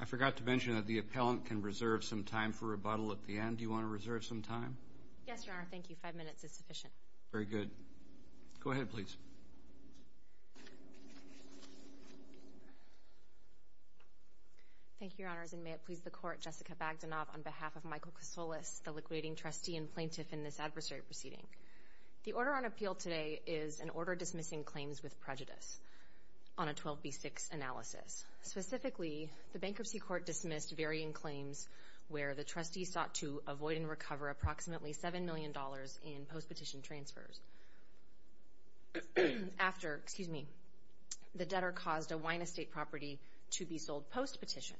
I forgot to mention that the appellant can reserve some time for rebuttal at the end. Do you want to reserve some time? Yes, Your Honor. Thank you. Five minutes is sufficient. Very good. Go ahead, please. Thank you, Your Honors. And may it please the Court, Jessica Bagdanov on behalf of Michael Kasolis, the liquidating trustee and plaintiff in this adversary proceeding. The order on appeal today is an order dismissing claims with prejudice on a 12B6 analysis. Specifically, the bankruptcy court dismissed varying claims where the trustee sought to avoid and recover approximately $7 million in post-petition transfers after, excuse me, the debtor caused a wine estate property to be sold post-petition,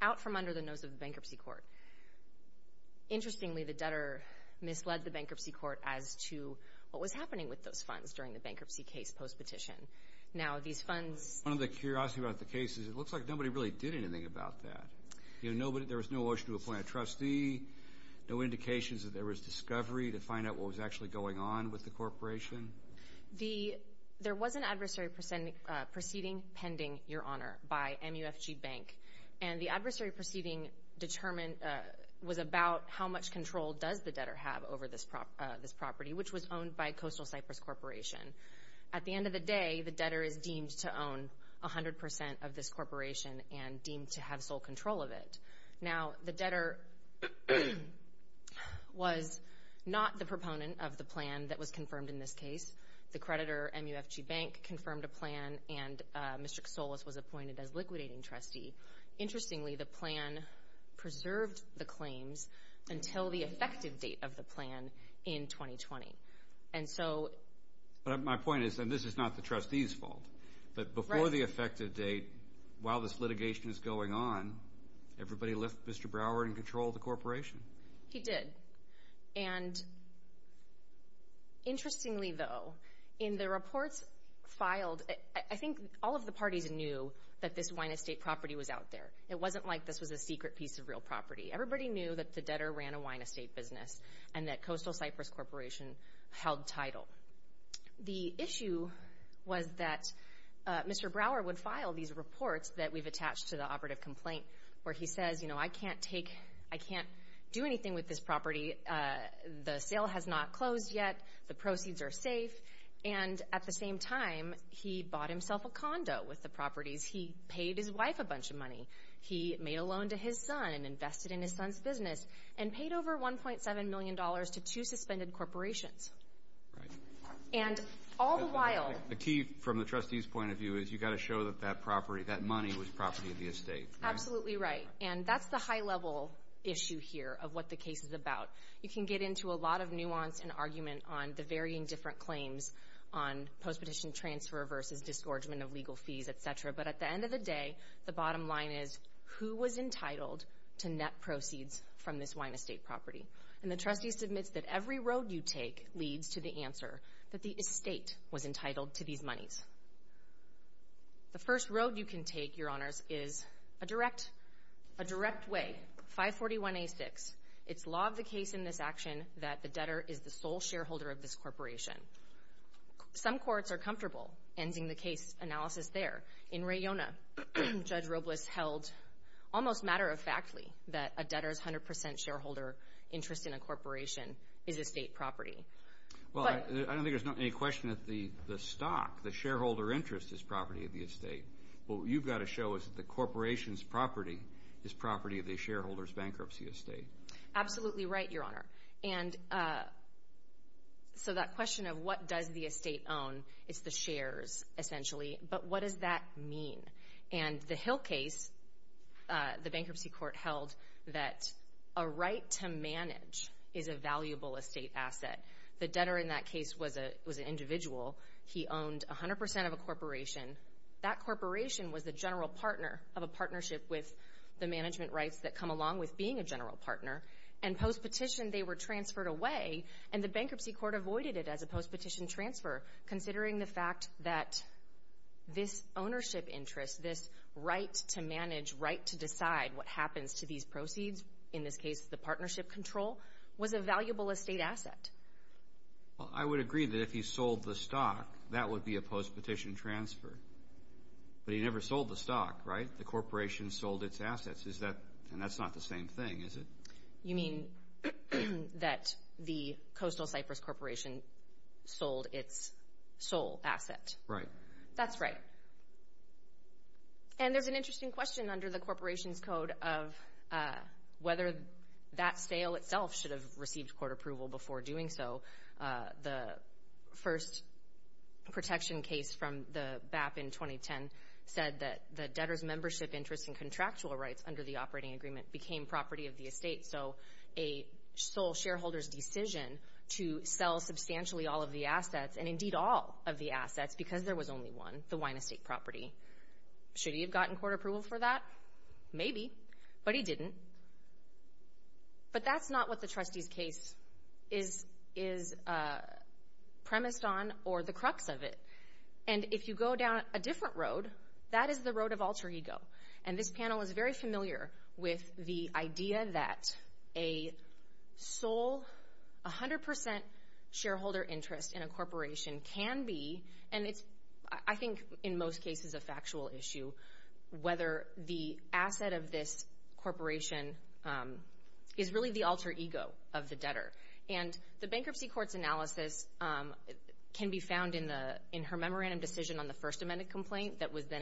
out from under the nose of the bankruptcy court. Interestingly, the debtor misled the bankruptcy court as to what was happening with those funds during the bankruptcy case post-petition. Now these funds— One of the curiosities about the case is it looks like nobody really did anything about that. You know, there was no motion to appoint a trustee, no indications that there was discovery to find out what was actually going on with the corporation. There was an adversary proceeding pending, Your Honor, by MUFG Bank. And the adversary proceeding determined—was about how much control does the debtor have over this property, which was owned by Coastal Cypress Corporation. At the end of the day, the debtor is deemed to own 100% of this corporation and deemed to have sole control of it. Now the debtor was not the proponent of the plan that was confirmed in this case. The creditor, MUFG Bank, confirmed a plan, and Mr. Kasoulis was appointed as liquidating trustee. Interestingly, the plan preserved the claims until the effective date of the plan in 2020. And so— But my point is—and this is not the trustee's fault—but before the effective date, while this litigation is going on, everybody left Mr. Brower in control of the corporation? He did. And interestingly, though, in the reports filed, I think all of the parties knew that this wine estate property was out there. It wasn't like this was a secret piece of real property. Everybody knew that the debtor ran a wine estate business and that Coastal Cypress Corporation held title. The issue was that Mr. Brower would file these reports that we've attached to the operative complaint where he says, you know, I can't take—I can't do anything with this property. The sale has not closed yet. The proceeds are safe. And at the same time, he bought himself a condo with the properties. He paid his wife a bunch of money. He made a loan to his son, invested in his son's business, and paid over $1.7 million to two suspended corporations. And all the while— But the key, from the trustee's point of view, is you've got to show that that property, that money was property of the estate. Absolutely right. And that's the high-level issue here of what the case is about. You can get into a lot of nuance and argument on the varying different claims on post-petition transfer versus disgorgement of legal fees, et cetera. But at the end of the day, the bottom line is, who was entitled to net proceeds from this wine estate property? And the trustee submits that every road you take leads to the answer that the estate was entitled to these monies. The first road you can take, Your Honors, is a direct—a direct way, 541A6. It's law of the case in this action that the debtor is the sole shareholder of this corporation. Some courts are comfortable ending the case analysis there. In Rayona, Judge Robles held almost matter-of-factly that a debtor's 100 percent shareholder interest in a corporation is estate property. But— Well, I don't think there's any question that the stock, the shareholder interest, is property of the estate. What you've got to show is that the corporation's property is property of the shareholder's bankruptcy estate. Absolutely right, Your Honor. And so that question of what does the estate own is the shares, essentially. But what does that mean? And the Hill case, the bankruptcy court held that a right to manage is a valuable estate asset. The debtor in that case was an individual. He owned 100 percent of a corporation. That corporation was the general partner of a partnership with the management rights that come along with being a general partner. And post-petition, they were transferred away, and the bankruptcy court avoided it as a post-petition transfer, considering the fact that this ownership interest, this right to manage, right to decide what happens to these proceeds, in this case the partnership control, was a valuable estate asset. Well, I would agree that if he sold the stock, that would be a post-petition transfer. But he never sold the stock, right? The corporation sold its assets. Is that — and that's not the same thing, is it? You mean that the Coastal Cypress Corporation sold its sole asset? Right. That's right. And there's an interesting question under the corporation's code of whether that sale itself should have received court approval before doing so. The first protection case from the BAP in 2010 said that the debtor's membership interest and contractual rights under the operating agreement became property of the estate. So a sole shareholder's decision to sell substantially all of the assets, and indeed all of the assets because there was only one, the wine estate property, should he have gotten court approval for that? Maybe. But he didn't. But that's not what the trustee's case is premised on or the crux of it. And if you go down a different road, that is the road of alter ego. And this panel is very familiar with the idea that a sole, 100 percent shareholder interest in a corporation can be — and it's, I think, in most cases a factual issue — whether the asset of this corporation is really the alter ego of the debtor. And the bankruptcy court's analysis can be found in her memorandum decision on the First Amendment,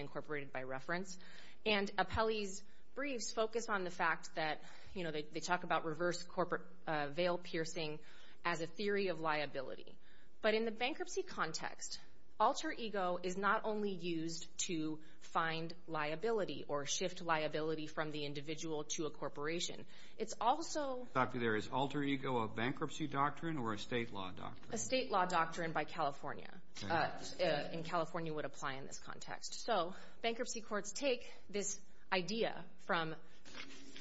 incorporated by reference. And Apelli's briefs focus on the fact that, you know, they talk about reverse corporate veil-piercing as a theory of liability. But in the bankruptcy context, alter ego is not only used to find liability or shift liability from the individual to a corporation. It's also — Doctor, is alter ego a bankruptcy doctrine or a state law doctrine? A state law doctrine by California. And California would apply in this context. So, bankruptcy courts take this idea from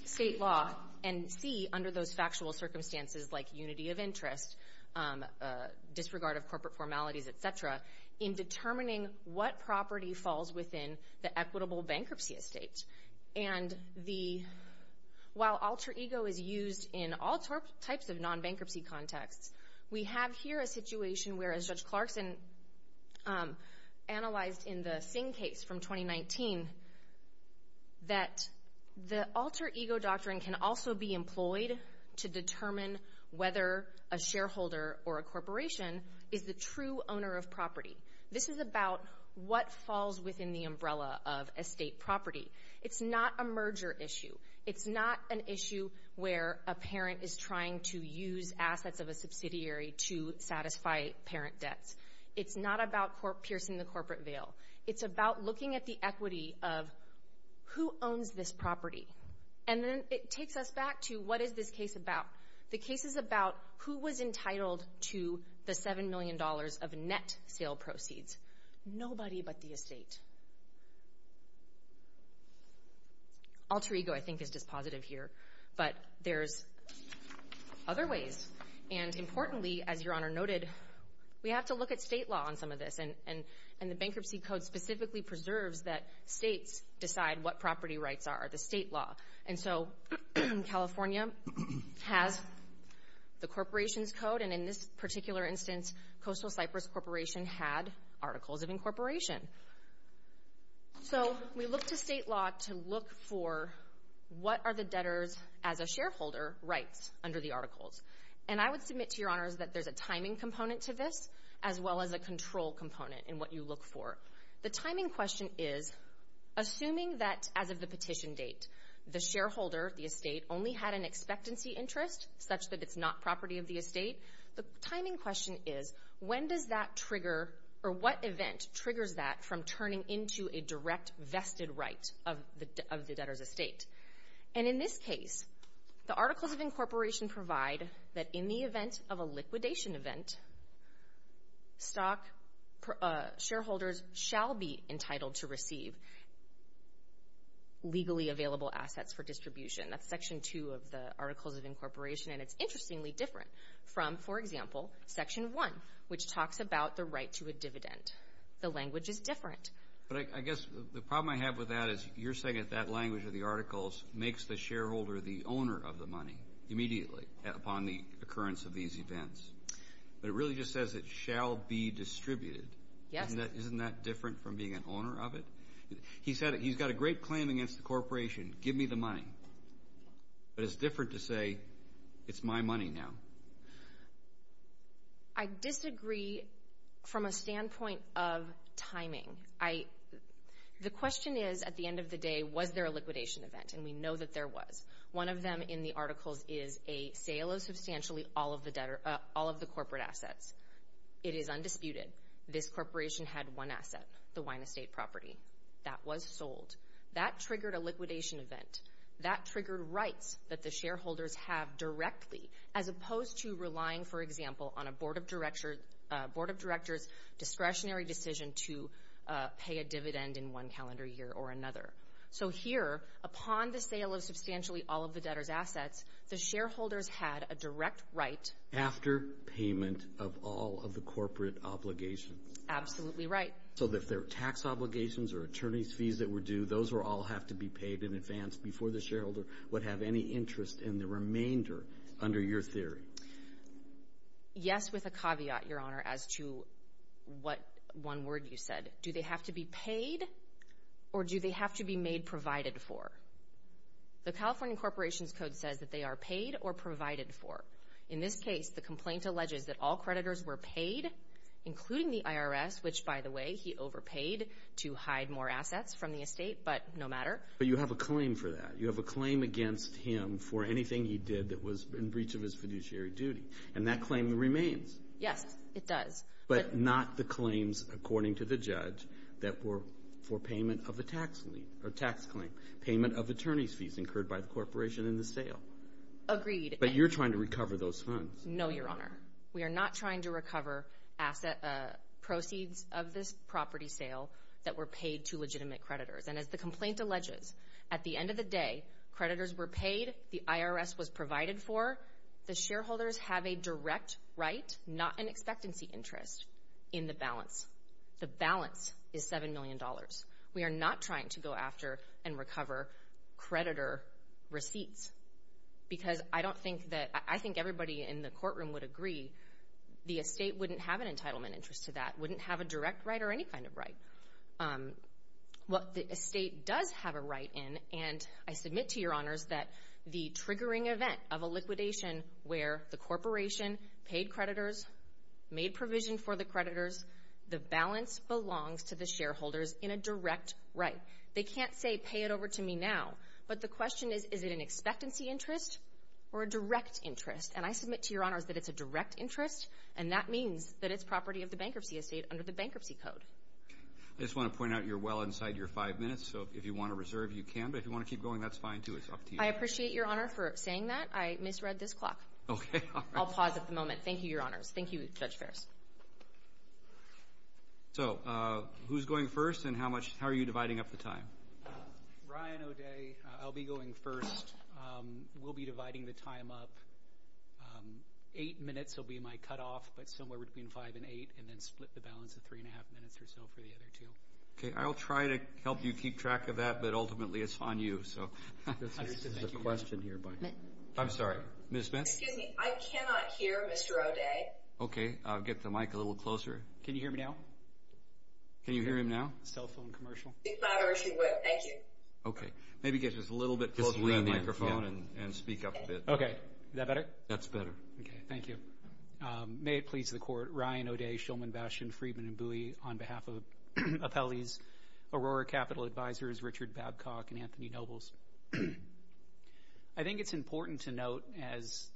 state law and see, under those factual circumstances like unity of interest, disregard of corporate formalities, et cetera, in determining what property falls within the equitable bankruptcy estate. And the — while alter ego is used in all types of non-bankruptcy contexts, we have here a situation where, as Judge Clarkson analyzed in the Singh case from 2019, that the alter ego doctrine can also be employed to determine whether a shareholder or a corporation is the true owner of property. This is about what falls within the umbrella of estate property. It's not a merger issue. It's not an issue where a parent is trying to use assets of a subsidiary to satisfy parent debts. It's not about piercing the corporate veil. It's about looking at the equity of who owns this property. And then it takes us back to what is this case about. The case is about who was entitled to the $7 million of net sale proceeds. Nobody but the estate. Alter ego, I think, is dispositive here. But there's other ways. And importantly, as Your Honor noted, we have to look at state law on some of this. And the Bankruptcy Code specifically preserves that states decide what property rights are, the state law. And so California has the Corporation's Code, and in this particular instance, Coastal So we look to state law to look for what are the debtors, as a shareholder, rights under the articles. And I would submit to Your Honors that there's a timing component to this, as well as a control component in what you look for. The timing question is, assuming that as of the petition date, the shareholder, the estate, only had an expectancy interest, such that it's not property of the estate, the timing question is, when does that trigger, or what event triggers that from turning into a direct vested right of the debtor's estate? And in this case, the Articles of Incorporation provide that in the event of a liquidation event, stock shareholders shall be entitled to receive legally available assets for distribution. That's Section 2 of the Articles of Incorporation. And it's interestingly different from, for example, Section 1, which talks about the right to a dividend. The language is different. But I guess the problem I have with that is you're saying that that language of the articles makes the shareholder the owner of the money immediately upon the occurrence of these events. But it really just says it shall be distributed. Yes. Isn't that different from being an owner of it? He's got a great claim against the Corporation, give me the money. But it's different to say, it's my money now. I disagree from a standpoint of timing. The question is, at the end of the day, was there a liquidation event? And we know that there was. One of them in the articles is a sale of substantially all of the corporate assets. It is undisputed. This corporation had one asset, the wine estate property. That was sold. That triggered a liquidation event. That triggered rights that the shareholders have directly, as opposed to relying, for example, on a board of directors' discretionary decision to pay a dividend in one calendar year or another. So here, upon the sale of substantially all of the debtor's assets, the shareholders had a direct right. After payment of all of the corporate obligations. Absolutely right. So if there were tax obligations or attorney's fees that were due, those all have to be paid in advance before the shareholder would have any interest in the remainder under your theory? Yes, with a caveat, Your Honor, as to what one word you said. Do they have to be paid or do they have to be made provided for? The California Corporations Code says that they are paid or provided for. In this case, the complaint alleges that all creditors were paid, including the IRS, which, by the way, he overpaid to hide more assets from the estate, but no matter. But you have a claim for that. You have a claim against him for anything he did that was in breach of his fiduciary duty. And that claim remains. Yes, it does. But not the claims, according to the judge, that were for payment of the tax claim, payment of attorney's fees incurred by the corporation in the sale. Agreed. But you're trying to recover those funds. No, Your Honor. We are not trying to recover proceeds of this property sale that were paid to legitimate creditors. And as the complaint alleges, at the end of the day, creditors were paid, the IRS was provided for, the shareholders have a direct right, not an expectancy interest, in the balance. The balance is $7 million. We are not trying to go after and recover creditor receipts. Because I don't think that, I think everybody in the courtroom would agree, the estate wouldn't have an entitlement interest to that, wouldn't have a direct right or any kind of right. What the estate does have a right in, and I submit to Your Honors that the triggering event of a liquidation where the corporation paid creditors, made provision for the creditors, the balance belongs to the shareholders in a direct right. They can't say, pay it over to me now. But the question is, is it an expectancy interest or a direct interest? And I submit to Your Honors that it's a direct interest, and that means that it's property of the bankruptcy estate under the Bankruptcy Code. I just want to point out, you're well inside your five minutes, so if you want to reserve, you can. But if you want to keep going, that's fine, too. It's up to you. I appreciate Your Honor for saying that. I misread this clock. Okay. All right. I'll pause at the moment. Thank you, Your Honors. Thank you, Judge Ferris. So, who's going first, and how much, how are you dividing up the time? Ryan O'Day. I'll be going first. We'll be dividing the time up. Eight minutes will be my cutoff, but somewhere between five and eight, and then split the time in half minutes or so for the other two. Okay. I'll try to help you keep track of that, but ultimately, it's on you, so. I'm sorry. Ms. Smith? Excuse me. I cannot hear Mr. O'Day. Okay. I'll get the mic a little closer. Can you hear me now? Can you hear him now? Cell phone commercial. As loud as you would. Thank you. Okay. Maybe get just a little bit closer to the microphone and speak up a bit. Okay. Is that better? That's better. Okay. Thank you. May it please the Court, Ryan O'Day, Shulman, Bashin, Friedman, and Bui. On behalf of Apelli's Aurora Capital Advisors, Richard Babcock and Anthony Nobles. I think it's important to note, as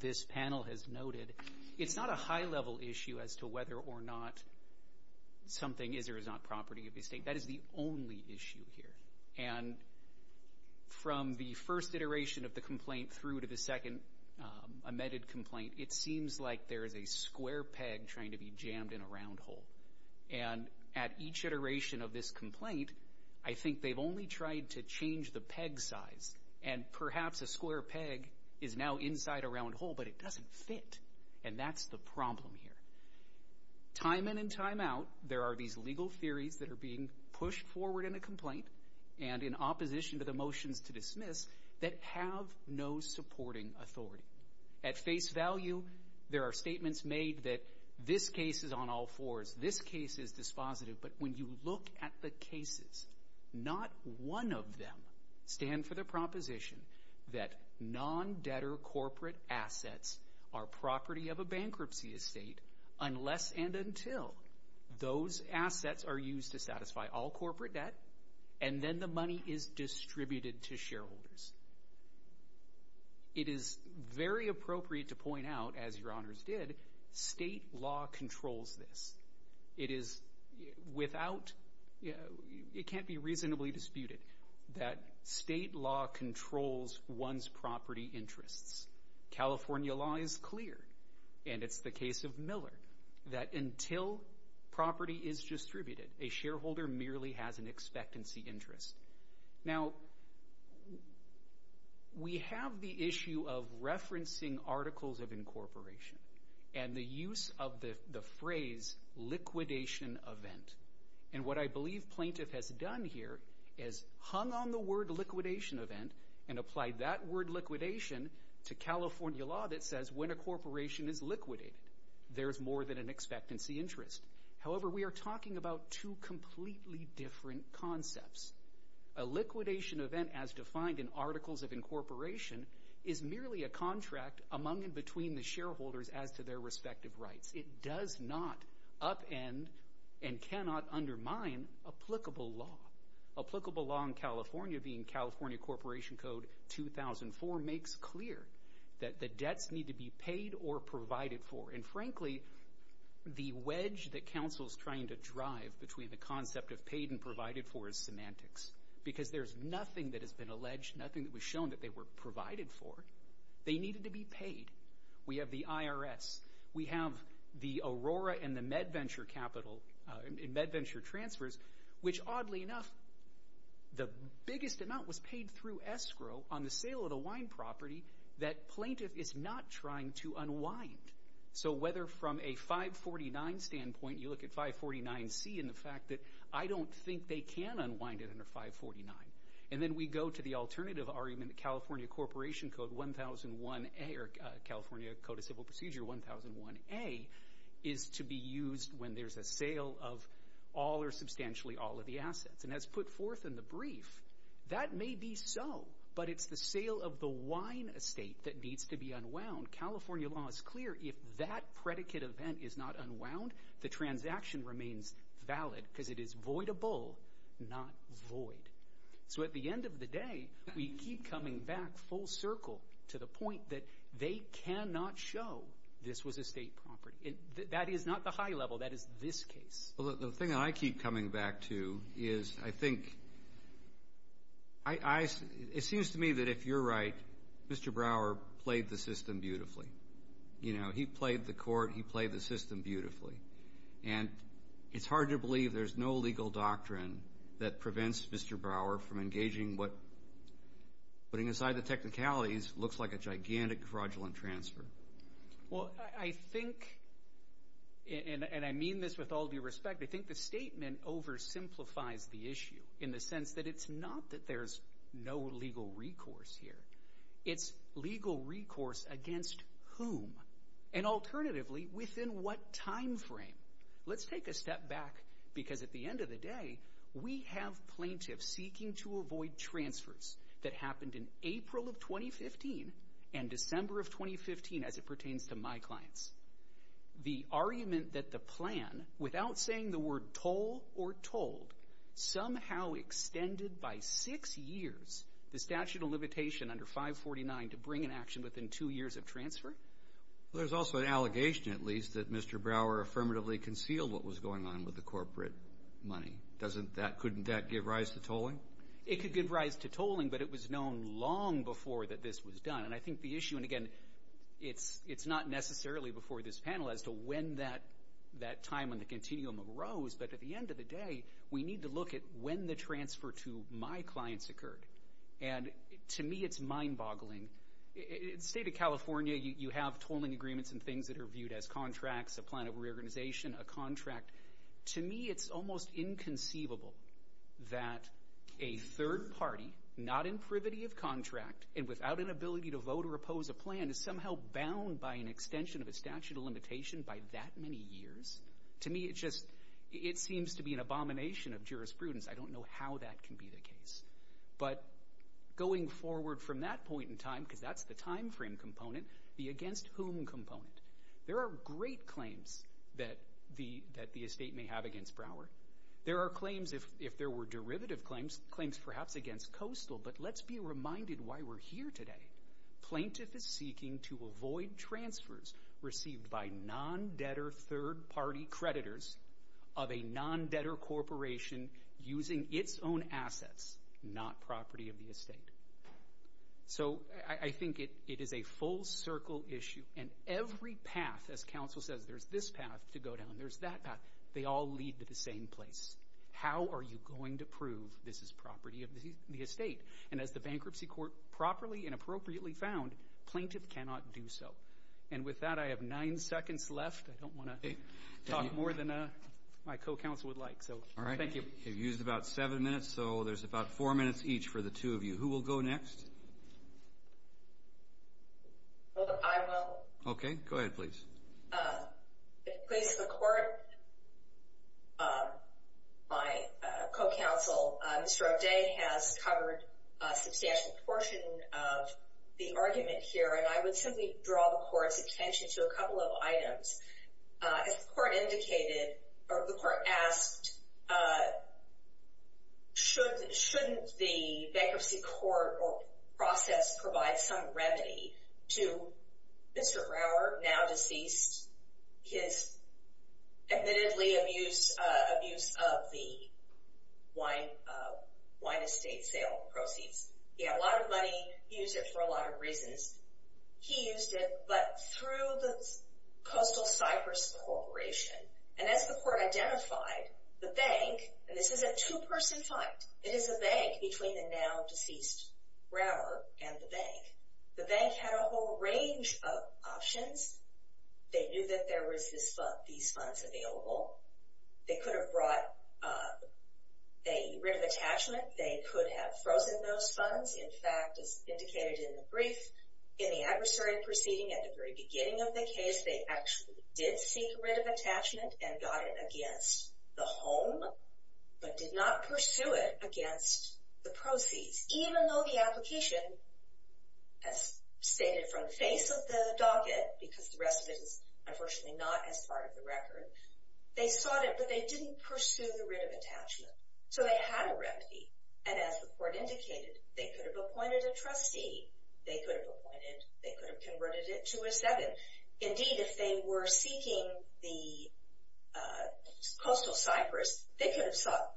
this panel has noted, it's not a high-level issue as to whether or not something is or is not property of the state. That is the only issue here, and from the first iteration of the complaint through to the second amended complaint, it seems like there is a square peg trying to be jammed in a round hole. And at each iteration of this complaint, I think they've only tried to change the peg size and perhaps a square peg is now inside a round hole, but it doesn't fit. And that's the problem here. Time in and time out, there are these legal theories that are being pushed forward in a complaint and in opposition to the motions to dismiss that have no supporting authority. At face value, there are statements made that this case is on all fours, this case is dispositive, but when you look at the cases, not one of them stand for the proposition that non-debtor corporate assets are property of a bankruptcy estate unless and until those assets are used to satisfy all corporate debt and then the money is distributed to shareholders. It is very appropriate to point out, as your honors did, state law controls this. It is without, it can't be reasonably disputed that state law controls one's property interests. California law is clear, and it's the case of Miller, that until property is distributed, a shareholder merely has an expectancy interest. Now, we have the issue of referencing articles of incorporation and the use of the phrase liquidation event, and what I believe plaintiff has done here is hung on the word liquidation event and applied that word liquidation to California law that says when a corporation is liquidated, there's more than an expectancy interest. However, we are talking about two completely different concepts. A liquidation event, as defined in articles of incorporation, is merely a contract among and between the shareholders as to their respective rights. It does not upend and cannot undermine applicable law. Applicable law in California, being California Corporation Code 2004, makes clear that the wedge that counsel's trying to drive between the concept of paid and provided for is semantics, because there's nothing that has been alleged, nothing that was shown that they were provided for. They needed to be paid. We have the IRS. We have the Aurora and the MedVenture capital, MedVenture transfers, which oddly enough, the biggest amount was paid through escrow on the sale of the wine property that plaintiff is not trying to unwind. So whether from a 549 standpoint, you look at 549C and the fact that I don't think they can unwind it under 549. And then we go to the alternative argument that California Code of Civil Procedure 1001A is to be used when there's a sale of all or substantially all of the assets. And as put forth in the brief, that may be so, but it's the sale of the wine estate that needs to be unwound. California law is clear, if that predicate event is not unwound, the transaction remains valid because it is voidable, not void. So at the end of the day, we keep coming back full circle to the point that they cannot show this was a state property. That is not the high level. That is this case. Well, the thing that I keep coming back to is, I think, it seems to me that if you're right, Mr. Brower played the system beautifully. You know, he played the court, he played the system beautifully. And it's hard to believe there's no legal doctrine that prevents Mr. Brower from engaging what, putting aside the technicalities, looks like a gigantic fraudulent transfer. Well, I think, and I mean this with all due respect, I think the statement oversimplifies the issue in the sense that it's not that there's no legal recourse here. It's legal recourse against whom, and alternatively, within what time frame. Let's take a step back, because at the end of the day, we have plaintiffs seeking to avoid transfers that happened in April of 2015 and December of 2015, as it pertains to my clients. The argument that the plan, without saying the word toll or told, somehow extended by six years the statute of limitation under 549 to bring an action within two years of transfer? There's also an allegation, at least, that Mr. Brower affirmatively concealed what was going on with the corporate money. Doesn't that, couldn't that give rise to tolling? It could give rise to tolling, but it was known long before that this was done. And I think the issue, and again, it's not necessarily before this panel as to when that time on the continuum arose, but at the end of the day, we need to look at when the transfer to my clients occurred. And to me, it's mind-boggling. In the state of California, you have tolling agreements and things that are viewed as contracts, a plan of reorganization, a contract. To me, it's almost inconceivable that a third party, not in privity of contract and without inability to vote or oppose a plan, is somehow bound by an extension of a statute of limitation by that many years. To me, it's just, it seems to be an abomination of jurisprudence. I don't know how that can be the case. But going forward from that point in time, because that's the time frame component, the against whom component. There are great claims that the estate may have against Brower. There are claims, if there were derivative claims, claims perhaps against Coastal, but let's be reminded why we're here today. Plaintiff is seeking to avoid transfers received by non-debtor third party creditors of a non-debtor corporation using its own assets, not property of the estate. So I think it is a full circle issue, and every path, as counsel says, there's this path to go down, there's that path, they all lead to the same place. How are you going to prove this is property of the estate? And as the bankruptcy court properly and appropriately found, plaintiff cannot do so. And with that, I have nine seconds left, I don't want to talk more than my co-counsel would like, so thank you. All right, you've used about seven minutes, so there's about four minutes each for the two of you. Who will go next? I will. Okay, go ahead please. If it pleases the court, my co-counsel, Mr. O'Day has covered a substantial portion of the argument here, and I would simply draw the court's attention to a couple of items. As the court indicated, or the court asked, shouldn't the bankruptcy court process provide some remedy to Mr. Rauer, now deceased, his admittedly abuse of the wine estate sale proceeds? He had a lot of money, he used it for a lot of reasons. He used it, but through the Coastal Cypress Corporation, and as the court identified, the bank, and this is a two-person fight, it is a bank between the now deceased Rauer and the bank. The bank had a whole range of options. They knew that there were these funds available, they could have brought a writ of attachment, they could have frozen those funds, in fact, as indicated in the brief, in the adversary proceeding at the very beginning of the case, they actually did seek a writ of attachment and got it against the home, but did not pursue it against the proceeds, even though the application has stated from the face of the docket, because the rest of it is unfortunately not as part of the record, they sought it, but they didn't pursue the writ of attachment. So they had a remedy, and as the court indicated, they could have appointed a trustee, they could have appointed, they could have converted it to a seven. Indeed, if they were seeking the Coastal Cypress, they could have sought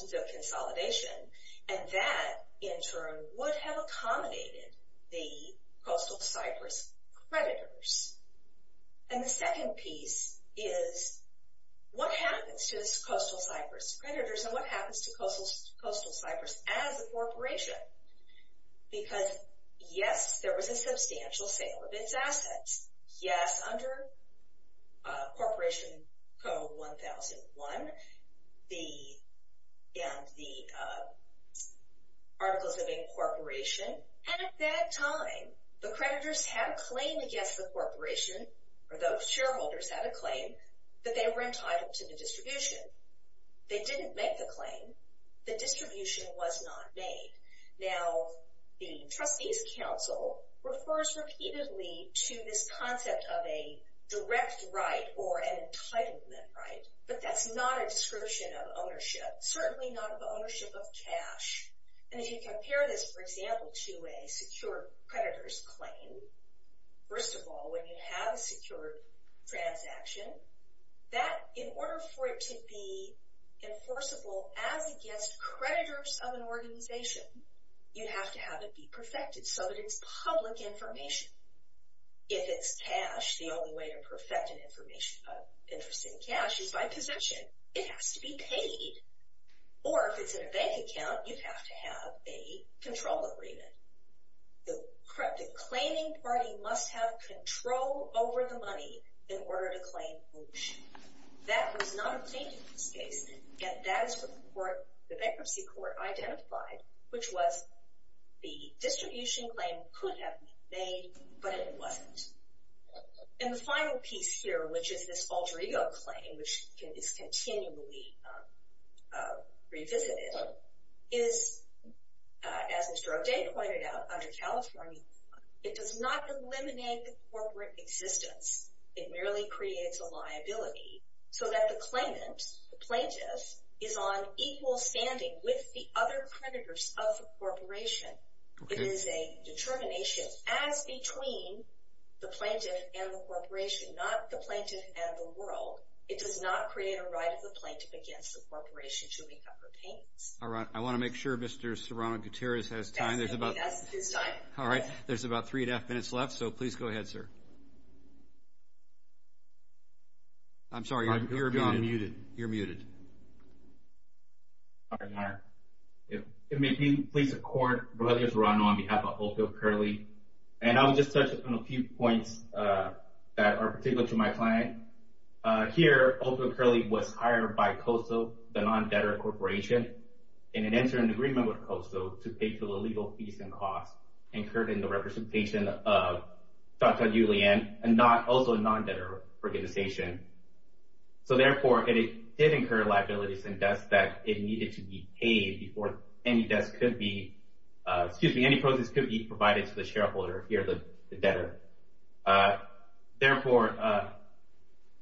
to do a consolidation, and that, in turn, would have accommodated the Coastal Cypress creditors. And the second piece is, what happens to the Coastal Cypress creditors, and what happens to Coastal Cypress as a corporation? Because yes, there was a substantial sale of its assets, yes, under Corporation Code 1001, and the Articles of Incorporation, and at that time, the creditors had a claim against the corporation, or those shareholders had a claim, that they were entitled to the distribution. They didn't make the claim, the distribution was not made. Now, the Trustees Council refers repeatedly to this concept of a direct right, or an entitlement right, but that's not a description of ownership, certainly not of ownership of cash. And if you compare this, for example, to a secure creditors claim, first of all, when you have a secure transaction, that, in order for it to be enforceable as against creditors of an organization, you have to have it be perfected, so that it's public information. If it's cash, the only way to perfect an interest in cash is by possession. It has to be paid, or if it's in a bank account, you have to have a control agreement. The claiming party must have control over the money in order to claim ownership. That was not a claim in this case, and that is what the bankruptcy court identified, which was the distribution claim could have been made, but it wasn't. And the final piece here, which is this alter ego claim, which is continually revisited, is, as Mr. O'Day pointed out, under California law, it does not eliminate the corporate existence. It merely creates a liability, so that the claimant, the plaintiff, is on equal standing with the other creditors of the corporation. It is a determination as between the plaintiff and the corporation, not the plaintiff and the world. It does not create a right of the plaintiff against the corporation to make up her payments. All right. I want to make sure Mr. Serrano-Gutierrez has time. There's about... That's his time. All right. There's about three and a half minutes left, so please go ahead, sir. I'm sorry. You're muted. You're muted. If it may be, please accord, Brothers Serrano, on behalf of Oakville Curly, and I'll just touch on a few points that are particular to my client. Here, Oakville Curly was hired by COSO, the non-debtor corporation, and it entered an agreement with COSO to pay for the legal fees and costs incurred in the representation of Tata Julian, and also a non-debtor organization. So, therefore, it did incur liabilities and debts that it needed to be paid before any debts could be... Excuse me. Any proceeds could be provided to the shareholder here, the debtor. Therefore,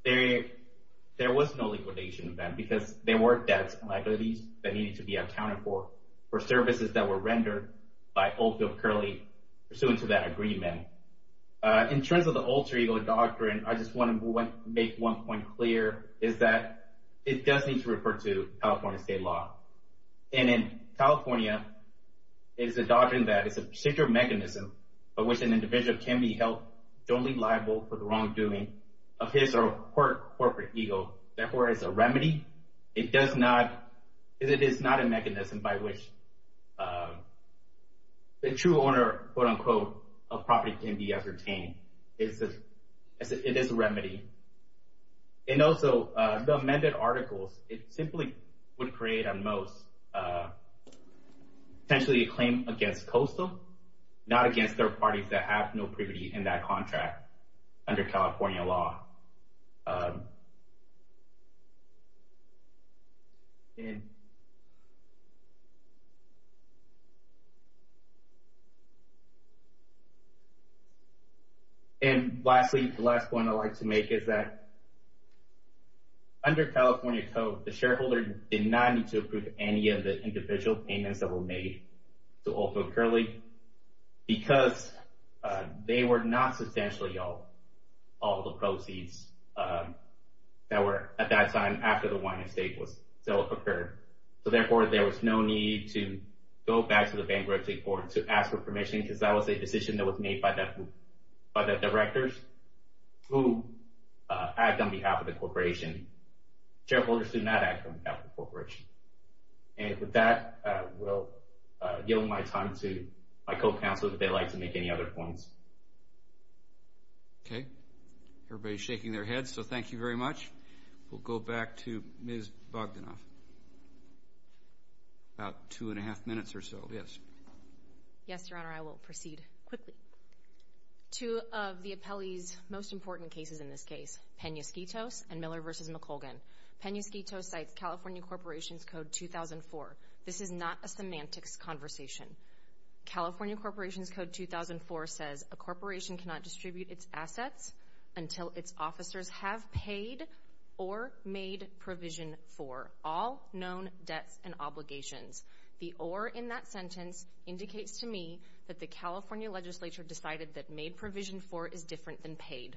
there was no liquidation of them because there were debts and liabilities that needed to be accounted for for services that were rendered by Oakville Curly pursuant to that agreement. In terms of the alter ego doctrine, I just want to make one point clear, is that it does need to refer to California state law. And in California, it's a doctrine that it's a particular mechanism by which an individual can be held totally liable for the wrongdoing of his or her corporate ego. Therefore, it's a remedy. It does not... It is not a mechanism by which the true owner, quote unquote, of property can be ascertained. It is a remedy. And also, the amended articles, it simply would create, at most, potentially a claim against COSO, not against third parties that have no privity in that contract under California law. And... And lastly, the last point I'd like to make is that under California code, the shareholder did not need to approve any of the individual payments that were made to Oakville Curly because they were not substantially all the proceeds that were, at that time, after the wine and steak sale occurred. So therefore, there was no need to go back to the bankruptcy court to ask for permission because that was a decision that was made by the directors who act on behalf of the corporation. Shareholders do not act on behalf of the corporation. And with that, I will yield my time to my co-counsel if they'd like to make any other points. Okay. Everybody's shaking their heads, so thank you very much. We'll go back to Ms. Bogdanoff. About two and a half minutes or so. Yes. Yes, Your Honor. I will proceed quickly. Two of the appellee's most important cases in this case, Penasquito's and Miller v. McColgan. Penasquito cites California Corporations Code 2004. This is not a semantics conversation. California Corporations Code 2004 says, a corporation cannot distribute its assets until its officers have paid or made provision for all known debts and obligations. The or in that sentence indicates to me that the California legislature decided that made provision for is different than paid.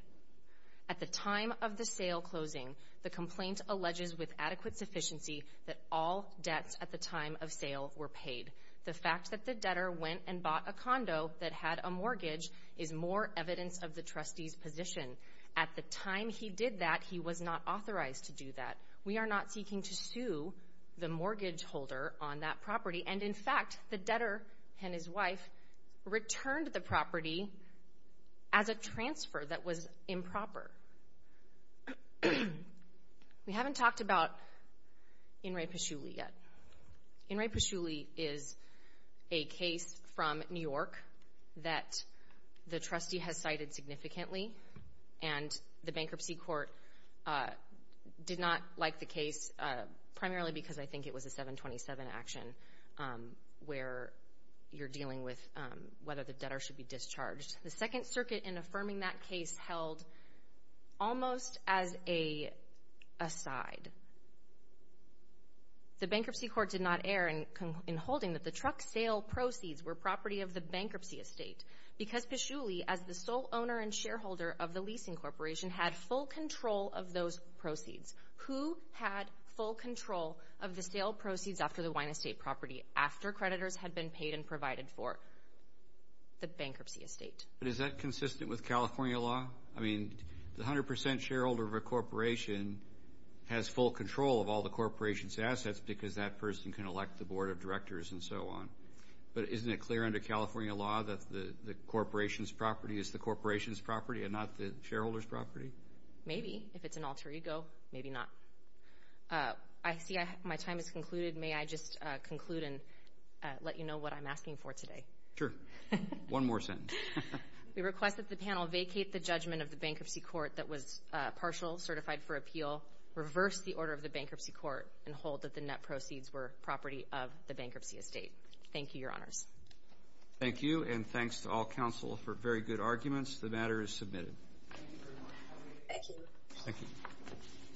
At the time of the sale closing, the complaint alleges with adequate sufficiency that all debts at the time of sale were paid. The fact that the debtor went and bought a condo that had a mortgage is more evidence of the trustee's position. At the time he did that, he was not authorized to do that. We are not seeking to sue the mortgage holder on that property. And, in fact, the debtor and his wife returned the property as a transfer that was improper. We haven't talked about In re Pesciulli yet. In re Pesciulli is a case from New York that the trustee has cited significantly. And the bankruptcy court did not like the case primarily because I think it was a 727 action where you're dealing with whether the debtor should be discharged. The Second Circuit, in affirming that case, held almost as an aside. The bankruptcy court did not err in holding that the truck sale proceeds were property of the bankruptcy estate. Because Pesciulli, as the sole owner and shareholder of the leasing corporation, had full control of those proceeds. Who had full control of the sale proceeds after the wine estate property, after creditors had been paid and provided for? The bankruptcy estate. But is that consistent with California law? I mean, the 100 percent shareholder of a corporation has full control of all the corporation's assets because that person can elect the board of directors and so on. But isn't it clear under California law that the corporation's property is the corporation's property and not the shareholder's property? Maybe. If it's an alter ego, maybe not. I see my time has concluded. May I just conclude and let you know what I'm asking for today? Sure. One more sentence. We request that the panel vacate the judgment of the bankruptcy court that was partial, certified for appeal, reverse the order of the bankruptcy court, and hold that the net Thank you, Your Honors. Thank you, and thanks to all counsel for very good arguments. The matter is submitted. Thank you. Thank you.